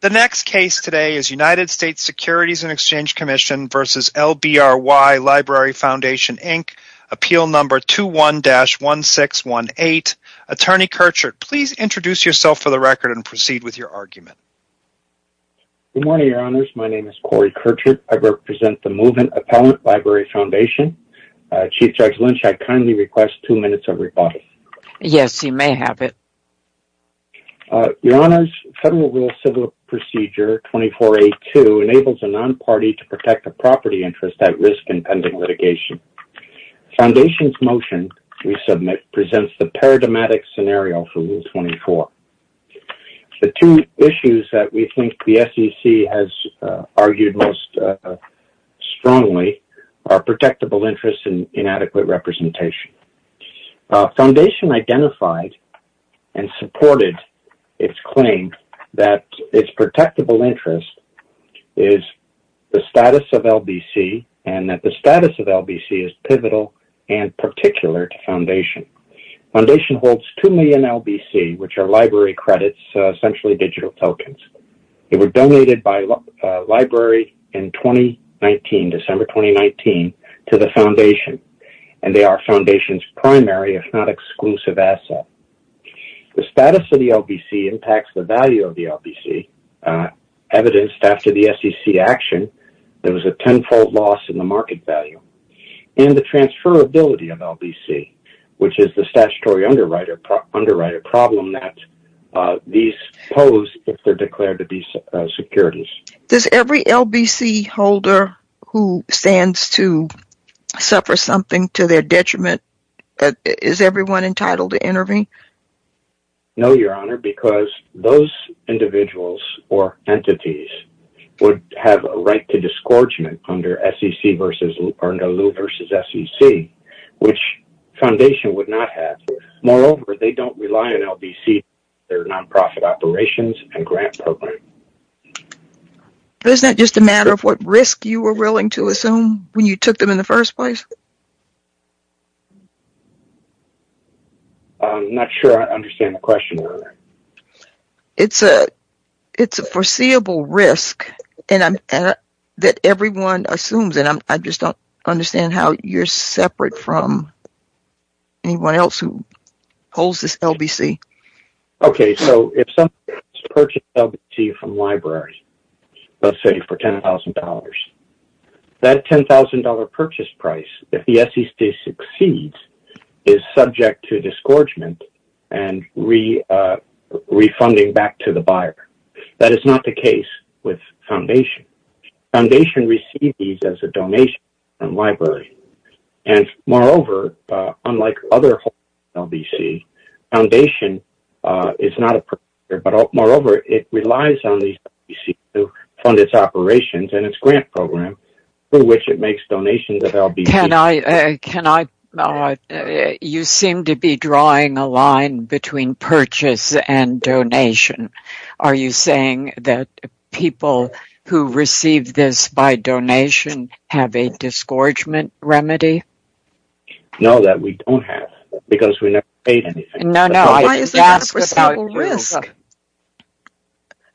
The next case today is United States Securities and Exchange Commission v. LBRY Library Foundation Inc. Appeal Number 21-1618. Attorney Kirchert, please introduce yourself for the record and proceed with your argument. Good morning, Your Honors. My name is Corey Kirchert. I represent the Movement Appellant Library Foundation. Chief Judge Lynch, I kindly request two minutes of audience. Yes, you may have it. Your Honors, Federal Rule Civil Procedure 24-A-2 enables a non-party to protect a property interest at risk in pending litigation. Foundation's motion we submit presents the paradigmatic scenario for Rule 24. The two issues that we think the SEC has identified and supported its claim that its protectable interest is the status of LBC and that the status of LBC is pivotal and particular to Foundation. Foundation holds two million LBC, which are library credits, essentially digital tokens. They were donated by Library in 2019, December 2019, to the Foundation and they are Foundation's primary, if not exclusive, asset. The status of the LBC impacts the value of the LBC. Evidenced after the SEC action, there was a tenfold loss in the market value and the transferability of LBC, which is the statutory underwriter problem that these pose if they're declared to be securities. Does every LBC holder who stands to suffer something to their detriment, is everyone entitled to intervene? No, Your Honor, because those individuals or entities would have a right to disgorgement under SEC v. or under Lew v. SEC, which Foundation would not have. Moreover, they don't rely on LBC for their non-profit operations and grant program. But isn't that just a matter of what risk you were willing to assume when you took them in the first place? I'm not sure I understand the question, Your Honor. It's a foreseeable risk that everyone assumes and I just don't understand how you're separate from anyone else who holds this LBC. Okay, so if someone purchases LBC from a library, let's say for $10,000, that $10,000 purchase price, if the SEC succeeds, is subject to disgorgement and refunding back to the buyer. That is not the case. Unlike other holders of LBC, Foundation is not a purchaser, but moreover, it relies on the LBC to fund its operations and its grant program through which it makes donations of LBC. You seem to be drawing a line between purchase and donation. Are you saying that people who receive this by donation have a disgorgement remedy? No, that we don't have because we never paid anything. No, no. Why is that a foreseeable risk?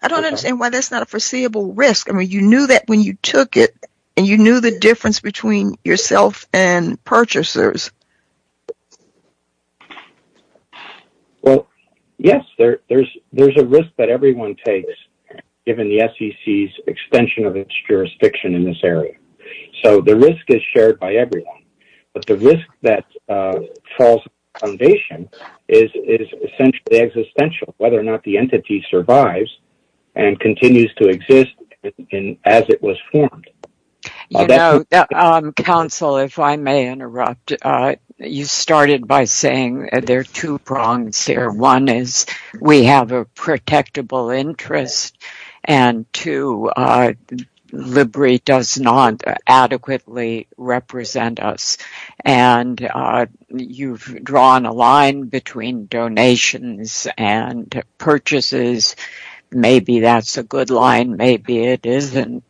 I don't understand why that's not a foreseeable risk. I mean, you knew that when you took it and you knew the difference between yourself and purchasers. Well, yes, there's a risk that everyone takes given the SEC's extension of its jurisdiction in this area. So, the risk is shared by everyone, but the risk that falls on Foundation is essentially existential, whether or not the entity survives and continues to exist as it was formed. Counsel, if I may interrupt, you started by saying there are two prongs there. One is we have a protectable interest, and two, LIBRI does not adequately represent us. You've drawn a line between donations and purchases. Maybe that's a good line, maybe it isn't.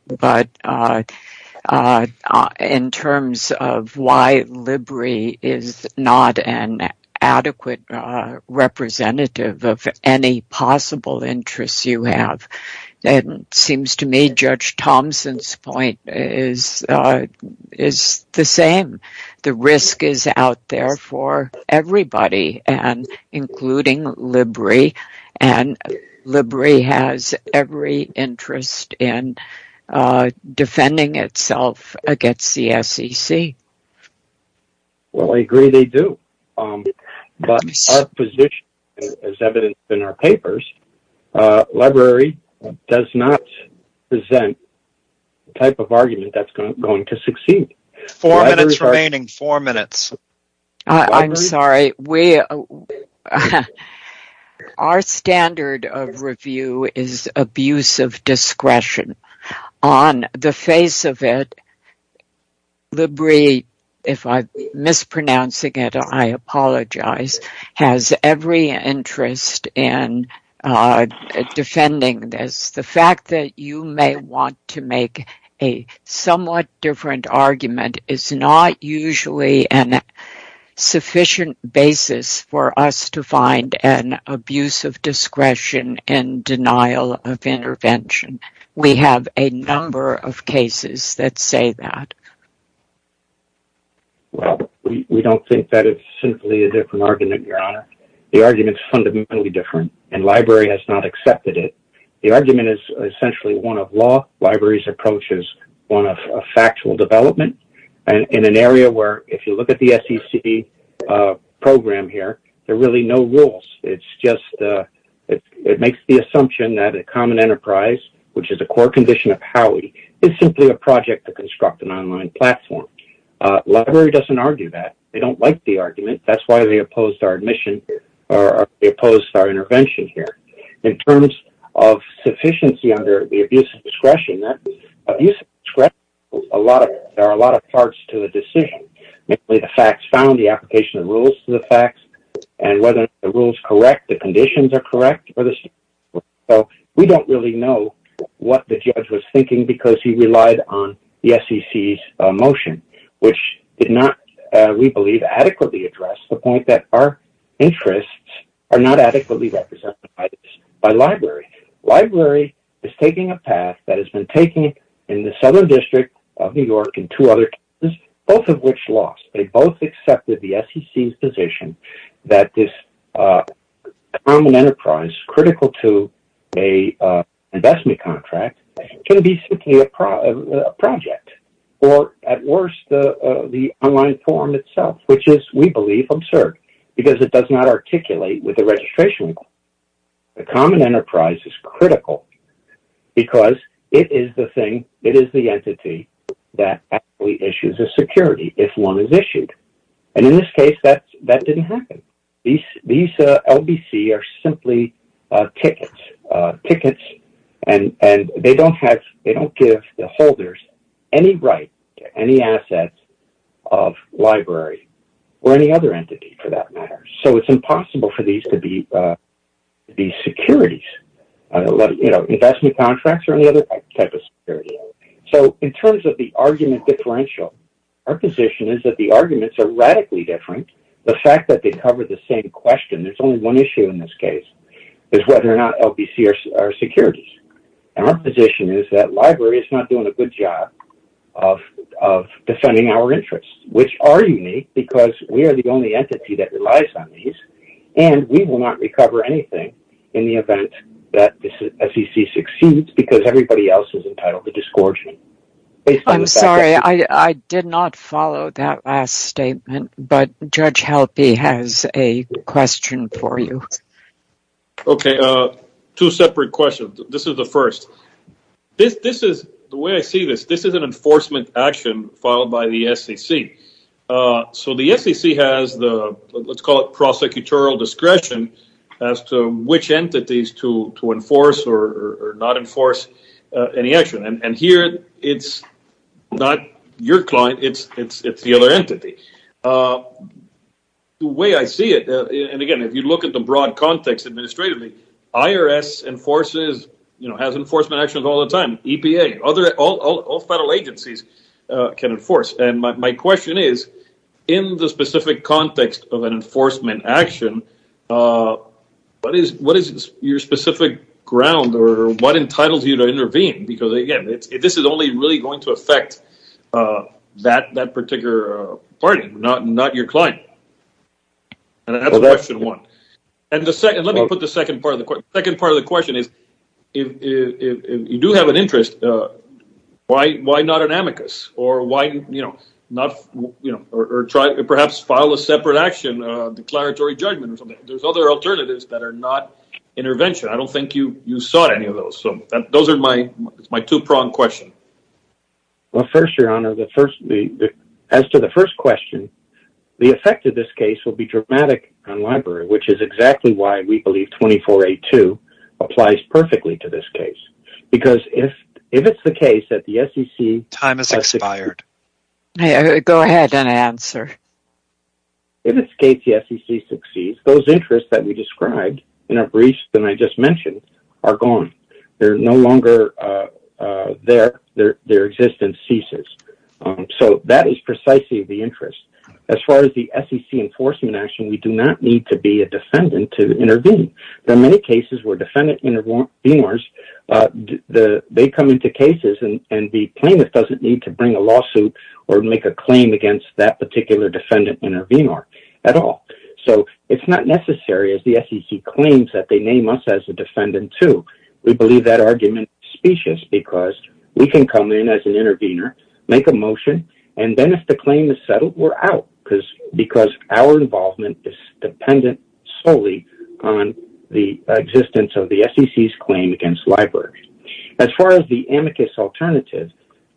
It seems to me that Judge Thompson's point is the same. The risk is out there for everybody, including LIBRI, and LIBRI has every interest in defending itself against the SEC. Well, I agree they do, but our position, as evidenced in our papers, LIBRI does not present the type of argument that's going to succeed. Four minutes remaining, four minutes. I'm sorry. Our standard of review is abuse of discretion. On the face of it, LIBRI, if I'm mispronouncing it, I apologize, has every interest in defending this. The fact that you may want to make a somewhat different argument is not usually a sufficient basis for us to find an abuse of discretion and denial of intervention. We have a number of cases that say that. Well, we don't think that it's simply a different argument, Your Honor. The argument is fundamentally different, and LIBRI has not accepted it. The argument is essentially one of law. LIBRI's approach is one of factual development. In an area where, if you look at the SEC program here, there are really no rules. It makes the assumption that common enterprise, which is a core condition of Howie, is simply a project to construct an online platform. LIBRI doesn't argue that. They don't like the argument. That's why they opposed our admission or they opposed our intervention here. In terms of sufficiency under the abuse of discretion, that abuse of discretion, there are a lot of parts to the decision, namely the facts found, the application of rules to the facts, and whether the rules are correct, conditions are correct. We don't really know what the judge was thinking because he relied on the SEC's motion, which did not, we believe, adequately address the point that our interests are not adequately represented by LIBRI. LIBRI is taking a path that has been taken in the Southern District of New York and two other cases, both of which lost. They both accepted the SEC's position that this common enterprise, critical to an investment contract, can be simply a project or, at worst, the online forum itself, which is, we believe, absurd because it does not articulate with the registration. The common enterprise is critical because it is the thing, it is the entity that actually issues a security if one is issued. And in this case, that didn't happen. These LBC are simply tickets and they don't have, they don't give the holders any right to any assets of LIBRI or any other entity for that investment contracts or any other type of security. So in terms of the argument differential, our position is that the arguments are radically different. The fact that they cover the same question, there's only one issue in this case, is whether or not LBC are securities. And our position is that LIBRI is not doing a good job of defending our interests, which are unique because we are the only entity that relies on these, and we will not recover anything in the event that the SEC succeeds because everybody else is entitled to disgorge. I'm sorry, I did not follow that last statement, but Judge Halpy has a question for you. Okay, two separate questions. This is the first. This is, the way I see this, this is an enforcement action filed by the SEC. So the SEC has the, let's call it, prosecutorial discretion as to which entities to enforce or not enforce any action. And here it's not your client, it's the other entity. The way I see it, and again, if you look at the broad context administratively, IRS enforces, you know, has enforcement actions all the time, EPA, all federal agencies can enforce. My question is, in the specific context of an enforcement action, what is your specific ground or what entitles you to intervene? Because again, this is only really going to affect that particular party, not your client. And that's question one. And the second, let me put the second part of the question. The second part of the question is, if you do have an interest, why not an amicus? Or why, you know, not, you know, or try to perhaps file a separate action, a declaratory judgment or something. There's other alternatives that are not intervention. I don't think you sought any of those. So those are my two-prong question. Well, first, your honor, the first, as to the first question, the effect of this case will be dramatic on library, which is exactly why we believe 2482 applies perfectly to this case. Because if it's the case that the SEC... Time has expired. Go ahead and answer. If it's the case the SEC succeeds, those interests that we described in a brief that I just mentioned are gone. They're no longer there. Their existence ceases. So that is precisely the interest. As far as the SEC enforcement action, we do not need to be a defendant to intervene. There are many cases where defendant intervenors, they come into cases and be plaintiff doesn't need to bring a lawsuit or make a claim against that particular defendant intervenor at all. So it's not necessary as the SEC claims that they name us as a defendant too. We believe that argument specious because we can come in as an intervenor, make a motion, and then if the claim is settled, we're out because our involvement is dependent solely on the existence of the SEC's claim against library. As far as the amicus alternative,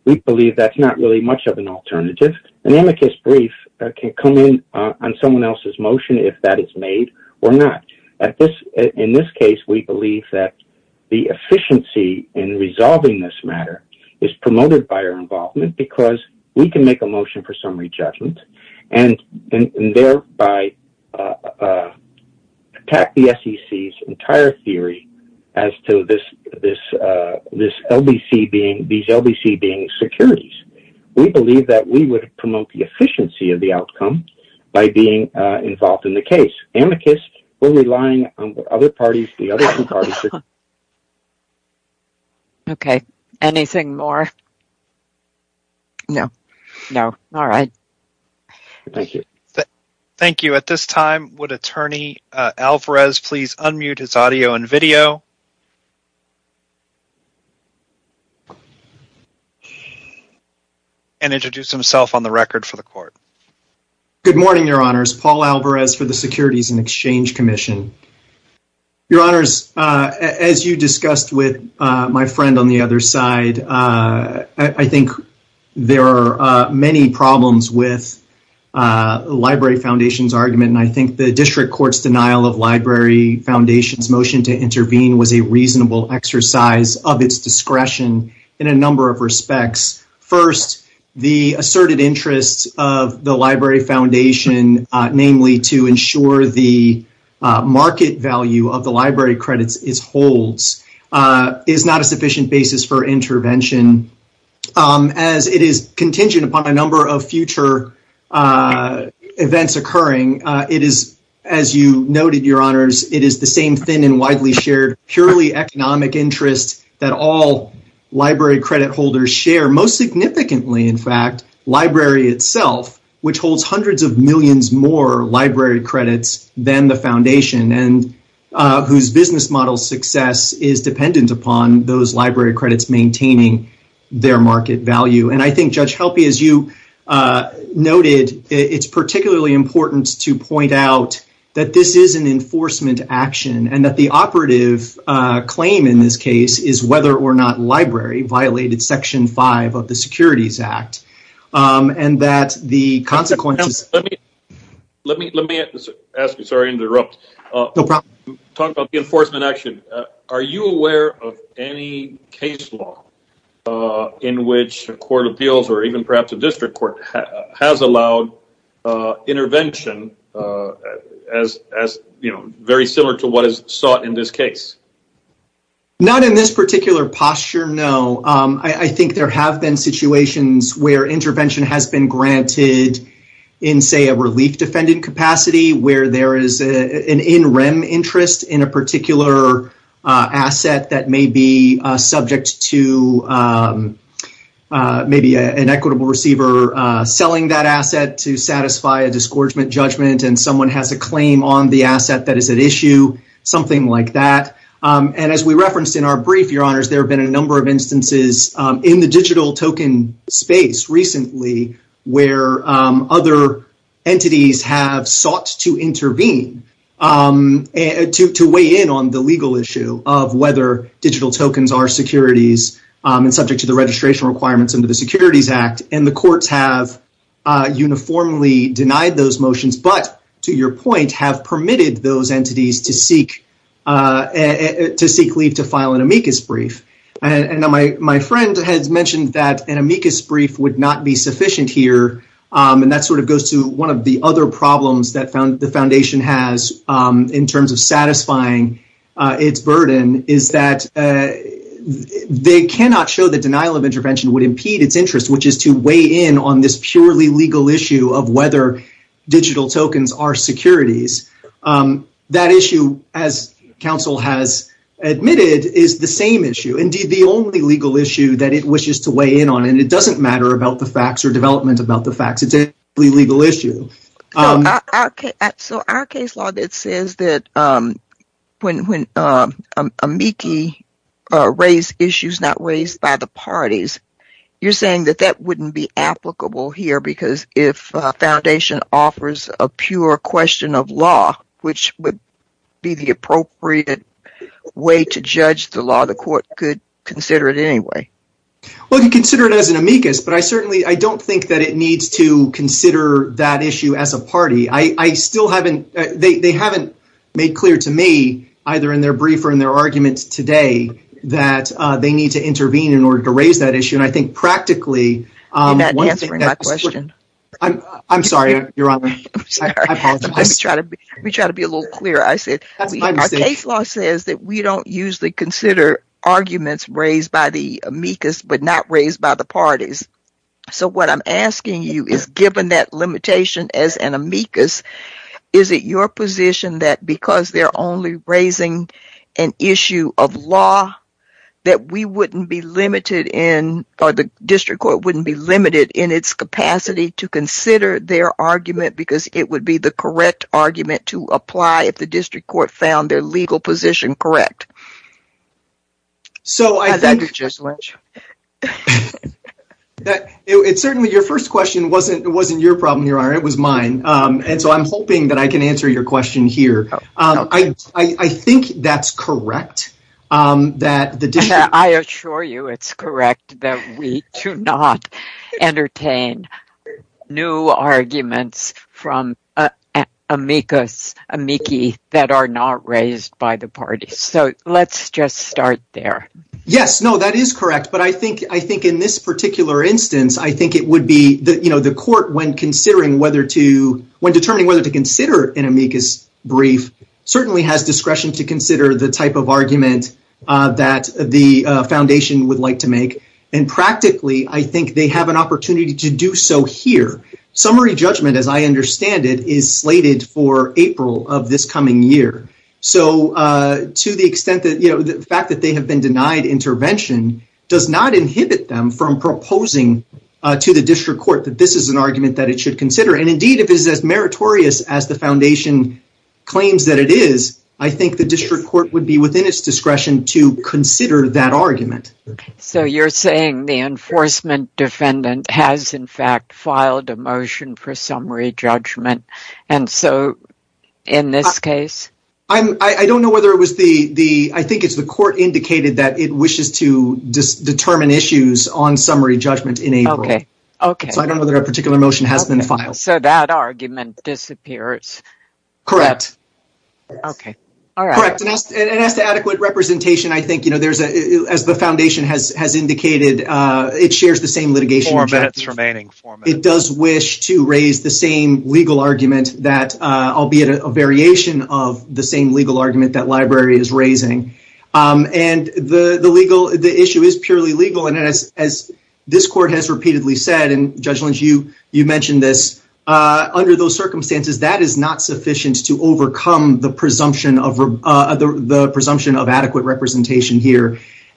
we believe that's not really much of an alternative. An amicus brief can come in on someone else's motion, if that is made or not. In this case, we believe that the efficiency in resolving this matter is promoted by our involvement because we can make a motion for summary judgment and thereby attack the SEC's entire theory as to these LBC being securities. We believe that we would promote the efficiency of the outcome by being involved in the case. Amicus, we're relying on what other parties do. Okay. Anything more? No. No. All right. Thank you. Thank you. At this time, would Attorney Alvarez please unmute his audio and video and introduce himself on the record for the court? Good morning, Your Honors. Paul Alvarez for the Library Foundation. As you discussed with my friend on the other side, I think there are many problems with the Library Foundation's argument, and I think the district court's denial of the Library Foundation's motion to intervene was a reasonable exercise of its discretion in a number of respects. First, the asserted interests of the Library Foundation, namely to ensure the market value of the library credits it holds, is not a sufficient basis for intervention. As it is contingent upon a number of future events occurring, it is, as you noted, Your Honors, it is the same thin and widely shared purely economic interests that all library credit holders share, most significantly, in fact, library itself, which holds hundreds of millions more library credits than the Foundation and whose business model success is dependent upon those library credits maintaining their market value. And I think, Judge Helpe, as you noted, it's particularly important to point out that this is an enforcement action and that the operative claim in this case is whether or not the library violated Section 5 of the Securities Act and that the consequences... Let me ask you, sorry to interrupt. No problem. Talking about the enforcement action, are you aware of any case law in which a court of appeals or even perhaps a district court has allowed intervention as very similar to what is sought in this case? Not in this particular posture, no. I think there have been situations where intervention has been granted in, say, a relief defendant capacity where there is an in rem interest in a particular asset that may be subject to maybe an equitable receiver selling that asset to satisfy a disgorgement judgment and someone has a claim on the asset that is at issue, something like that. And as we referenced in our brief, Your Honors, there have been a number of instances in the digital token space recently where other entities have sought to intervene to weigh in on the legal issue of whether digital tokens are securities and subject to the registration requirements under the Securities Act. And the courts have uniformly denied those entities to seek leave to file an amicus brief. And my friend has mentioned that an amicus brief would not be sufficient here. And that sort of goes to one of the other problems that found the foundation has in terms of satisfying its burden is that they cannot show the denial of intervention would impede its interest, which is to weigh in on this purely legal issue of whether digital tokens are securities. That issue, as counsel has admitted, is the same issue. Indeed, the only legal issue that it wishes to weigh in on, and it doesn't matter about the facts or development about the facts, it's a legal issue. So our case law that says that when amici raise issues not raised by the parties, you're saying that that wouldn't be applicable here because if foundation offers a pure question of law, which would be the appropriate way to judge the law, the court could consider it anyway. Well, you consider it as an amicus, but I certainly, I don't think that it needs to consider that issue as a party. I still haven't, they haven't made clear to me either in their brief or in their arguments today that they need to intervene in I'm sorry, you're wrong. Let me try to be a little clearer. I said, our case law says that we don't usually consider arguments raised by the amicus, but not raised by the parties. So what I'm asking you is given that limitation as an amicus, is it your position that because they're only raising an issue of law that we wouldn't be to consider their argument because it would be the correct argument to apply if the district court found their legal position correct? So I think it's certainly your first question. It wasn't your problem, your honor. It was mine. And so I'm hoping that I can answer your question here. I think that's correct. I assure you it's correct that we do not entertain new arguments from amicus amici that are not raised by the party. So let's just start there. Yes, no, that is correct. But I think in this particular instance, I think it would be the court when considering whether to, when determining whether to consider an amicus brief, certainly has discretion to consider the type of argument that the foundation would like to make. And practically, I think they have an opportunity to do so here. Summary judgment, as I understand it, is slated for April of this coming year. So to the extent that, you know, the fact that they have been denied intervention does not inhibit them from proposing to the district court that this is an argument that it should consider. And indeed, if it's as meritorious as the foundation claims that it is, I think the district court would be within its discretion to consider that argument. So you're saying the enforcement defendant has, in fact, filed a motion for summary judgment. And so in this case, I don't know whether it was the, I think it's the court indicated that it wishes to determine issues on summary judgment in April. Okay. So I don't know that a particular motion has been filed. So that argument disappears. Correct. Okay. All right. Correct. And as to adequate representation, I think, you know, there's a, as the foundation has indicated, it shares the same litigation. It does wish to raise the same legal argument that, albeit a variation of the same legal argument that library is raising. And the issue is purely legal. And as this court has repeatedly said, and Judge Lynch, you mentioned this, under those circumstances, that is not sufficient to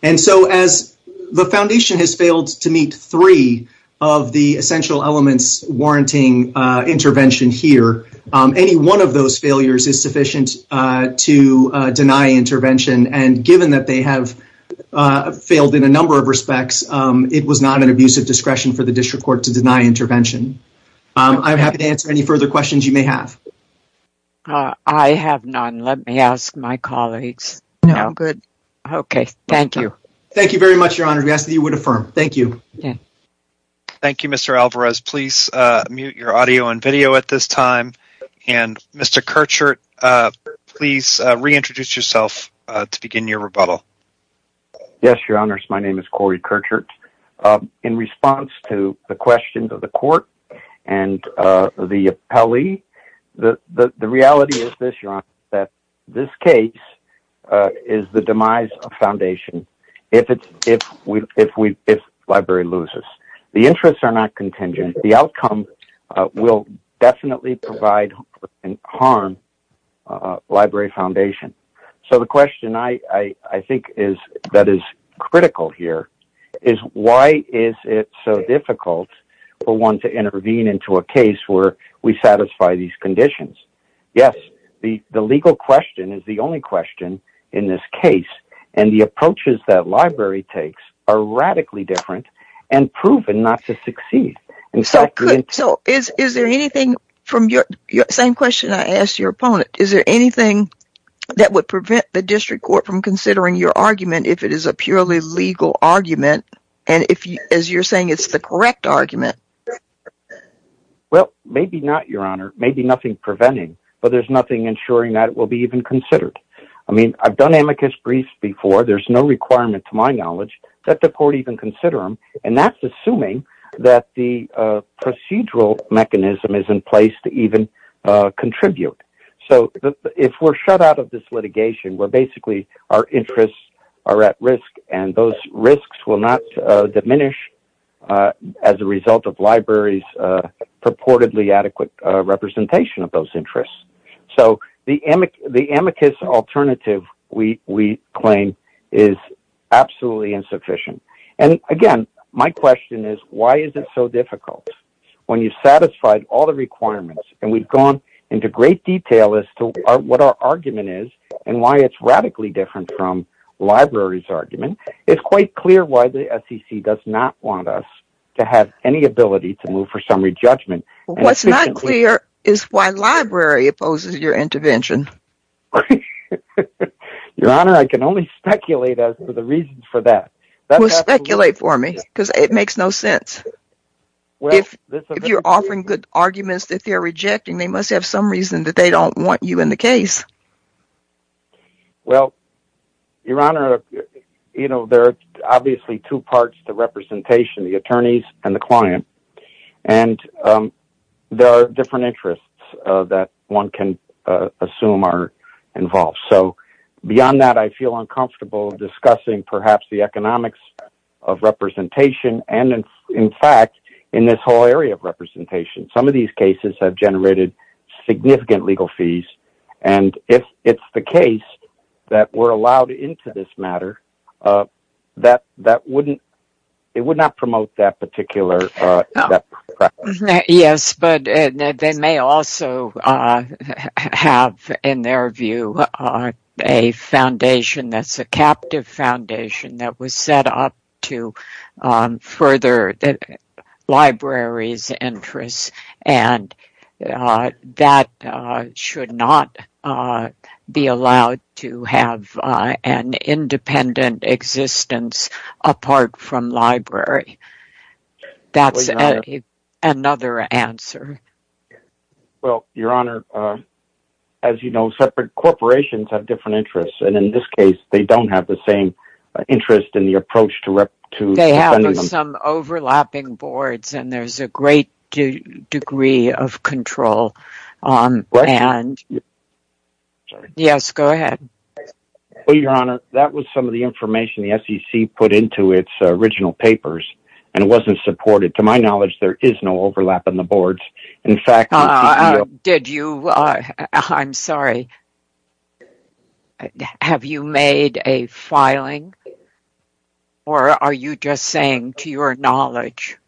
And so as the foundation has failed to meet three of the essential elements warranting intervention here, any one of those failures is sufficient to deny intervention. And given that they have failed in a number of respects, it was not an abusive discretion for the district court to deny intervention. I'm happy to answer any further questions you may have. Uh, I have none. Let me ask my colleagues. No. Good. Okay. Thank you. Thank you very much, Your Honor. We ask that you would affirm. Thank you. Yeah. Thank you, Mr. Alvarez. Please mute your audio and video at this time. And Mr. Kurchert, please reintroduce yourself to begin your rebuttal. Yes, Your Honor. My name is Corey Kurchert. In response to the questions of the reality is this, Your Honor, that this case is the demise of foundation if library loses. The interests are not contingent. The outcome will definitely provide and harm library foundation. So the question I think that is critical here is why is it so difficult for one to intervene into a case where we satisfy these conditions? Yes, the legal question is the only question in this case. And the approaches that library takes are radically different and proven not to succeed. So is there anything from your same question I asked your opponent, is there anything that would prevent the district court from considering your argument if it is a man? Well, maybe not, Your Honor, maybe nothing preventing, but there's nothing ensuring that it will be even considered. I mean, I've done amicus briefs before. There's no requirement to my knowledge that the court even consider them. And that's assuming that the procedural mechanism is in place to even contribute. So if we're shut out of this litigation, we're basically our interests are at risk and those risks will not diminish as a result of libraries purportedly adequate representation of those interests. So the amicus alternative we claim is absolutely insufficient. And again, my question is why is it so difficult when you've satisfied all the requirements and we've gone into great detail as to what our radically different from libraries argument. It's quite clear why the SEC does not want us to have any ability to move for summary judgment. What's not clear is why library opposes your intervention. Your Honor, I can only speculate as to the reasons for that. Well, speculate for me because it makes no sense. If you're offering good arguments that they're rejecting, they must have some reason that they don't want you in the case. Well, Your Honor, you know, there are obviously two parts to representation, the attorneys and the client. And there are different interests that one can assume are involved. So beyond that, I feel uncomfortable discussing perhaps the economics of representation. And in fact, in this whole area of representation, some of these cases have generated significant legal fees. And if it's the case that we're allowed into this matter, it would not promote that particular preference. Yes, but they may also have in their view a foundation that's a captive foundation that was set up to further libraries interests. And that should not be allowed to have an independent existence apart from library. That's another answer. Well, Your Honor, as you know, separate corporations have different interests. And in this case, they don't have the same interest in the approach to some overlapping boards. And there's a great degree of control. And yes, go ahead. Well, Your Honor, that was some of the information the SEC put into its original papers. And it wasn't supported. To my knowledge, there is no overlap in the boards. In fact, did you? I'm sorry. Have you made a filing? Or are you just saying to your knowledge?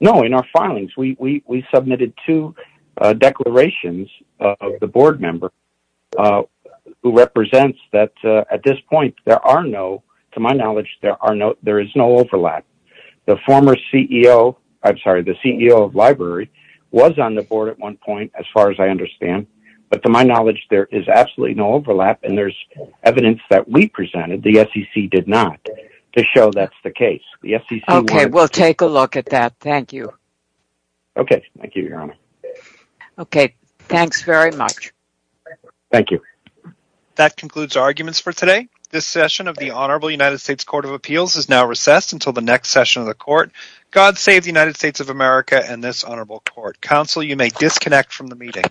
No, in our filings, we submitted two declarations of the board member, who represents that at this point, there are no, to my knowledge, there is no overlap. The former CEO, I'm sorry, the CEO of library was on the board at one point, as far as I understand. But to my knowledge, there is absolutely no overlap. And there's evidence that we presented the SEC did not to show that's the case. Okay, we'll take a look at that. Thank you. Okay, thank you, Your Honor. Okay, thanks very much. Thank you. That concludes our arguments for today. This session of the Honorable United States Court of Appeals is now recessed until the next session of the court. God save the United States of America and this Honorable Court. Counsel, you may disconnect from the meeting.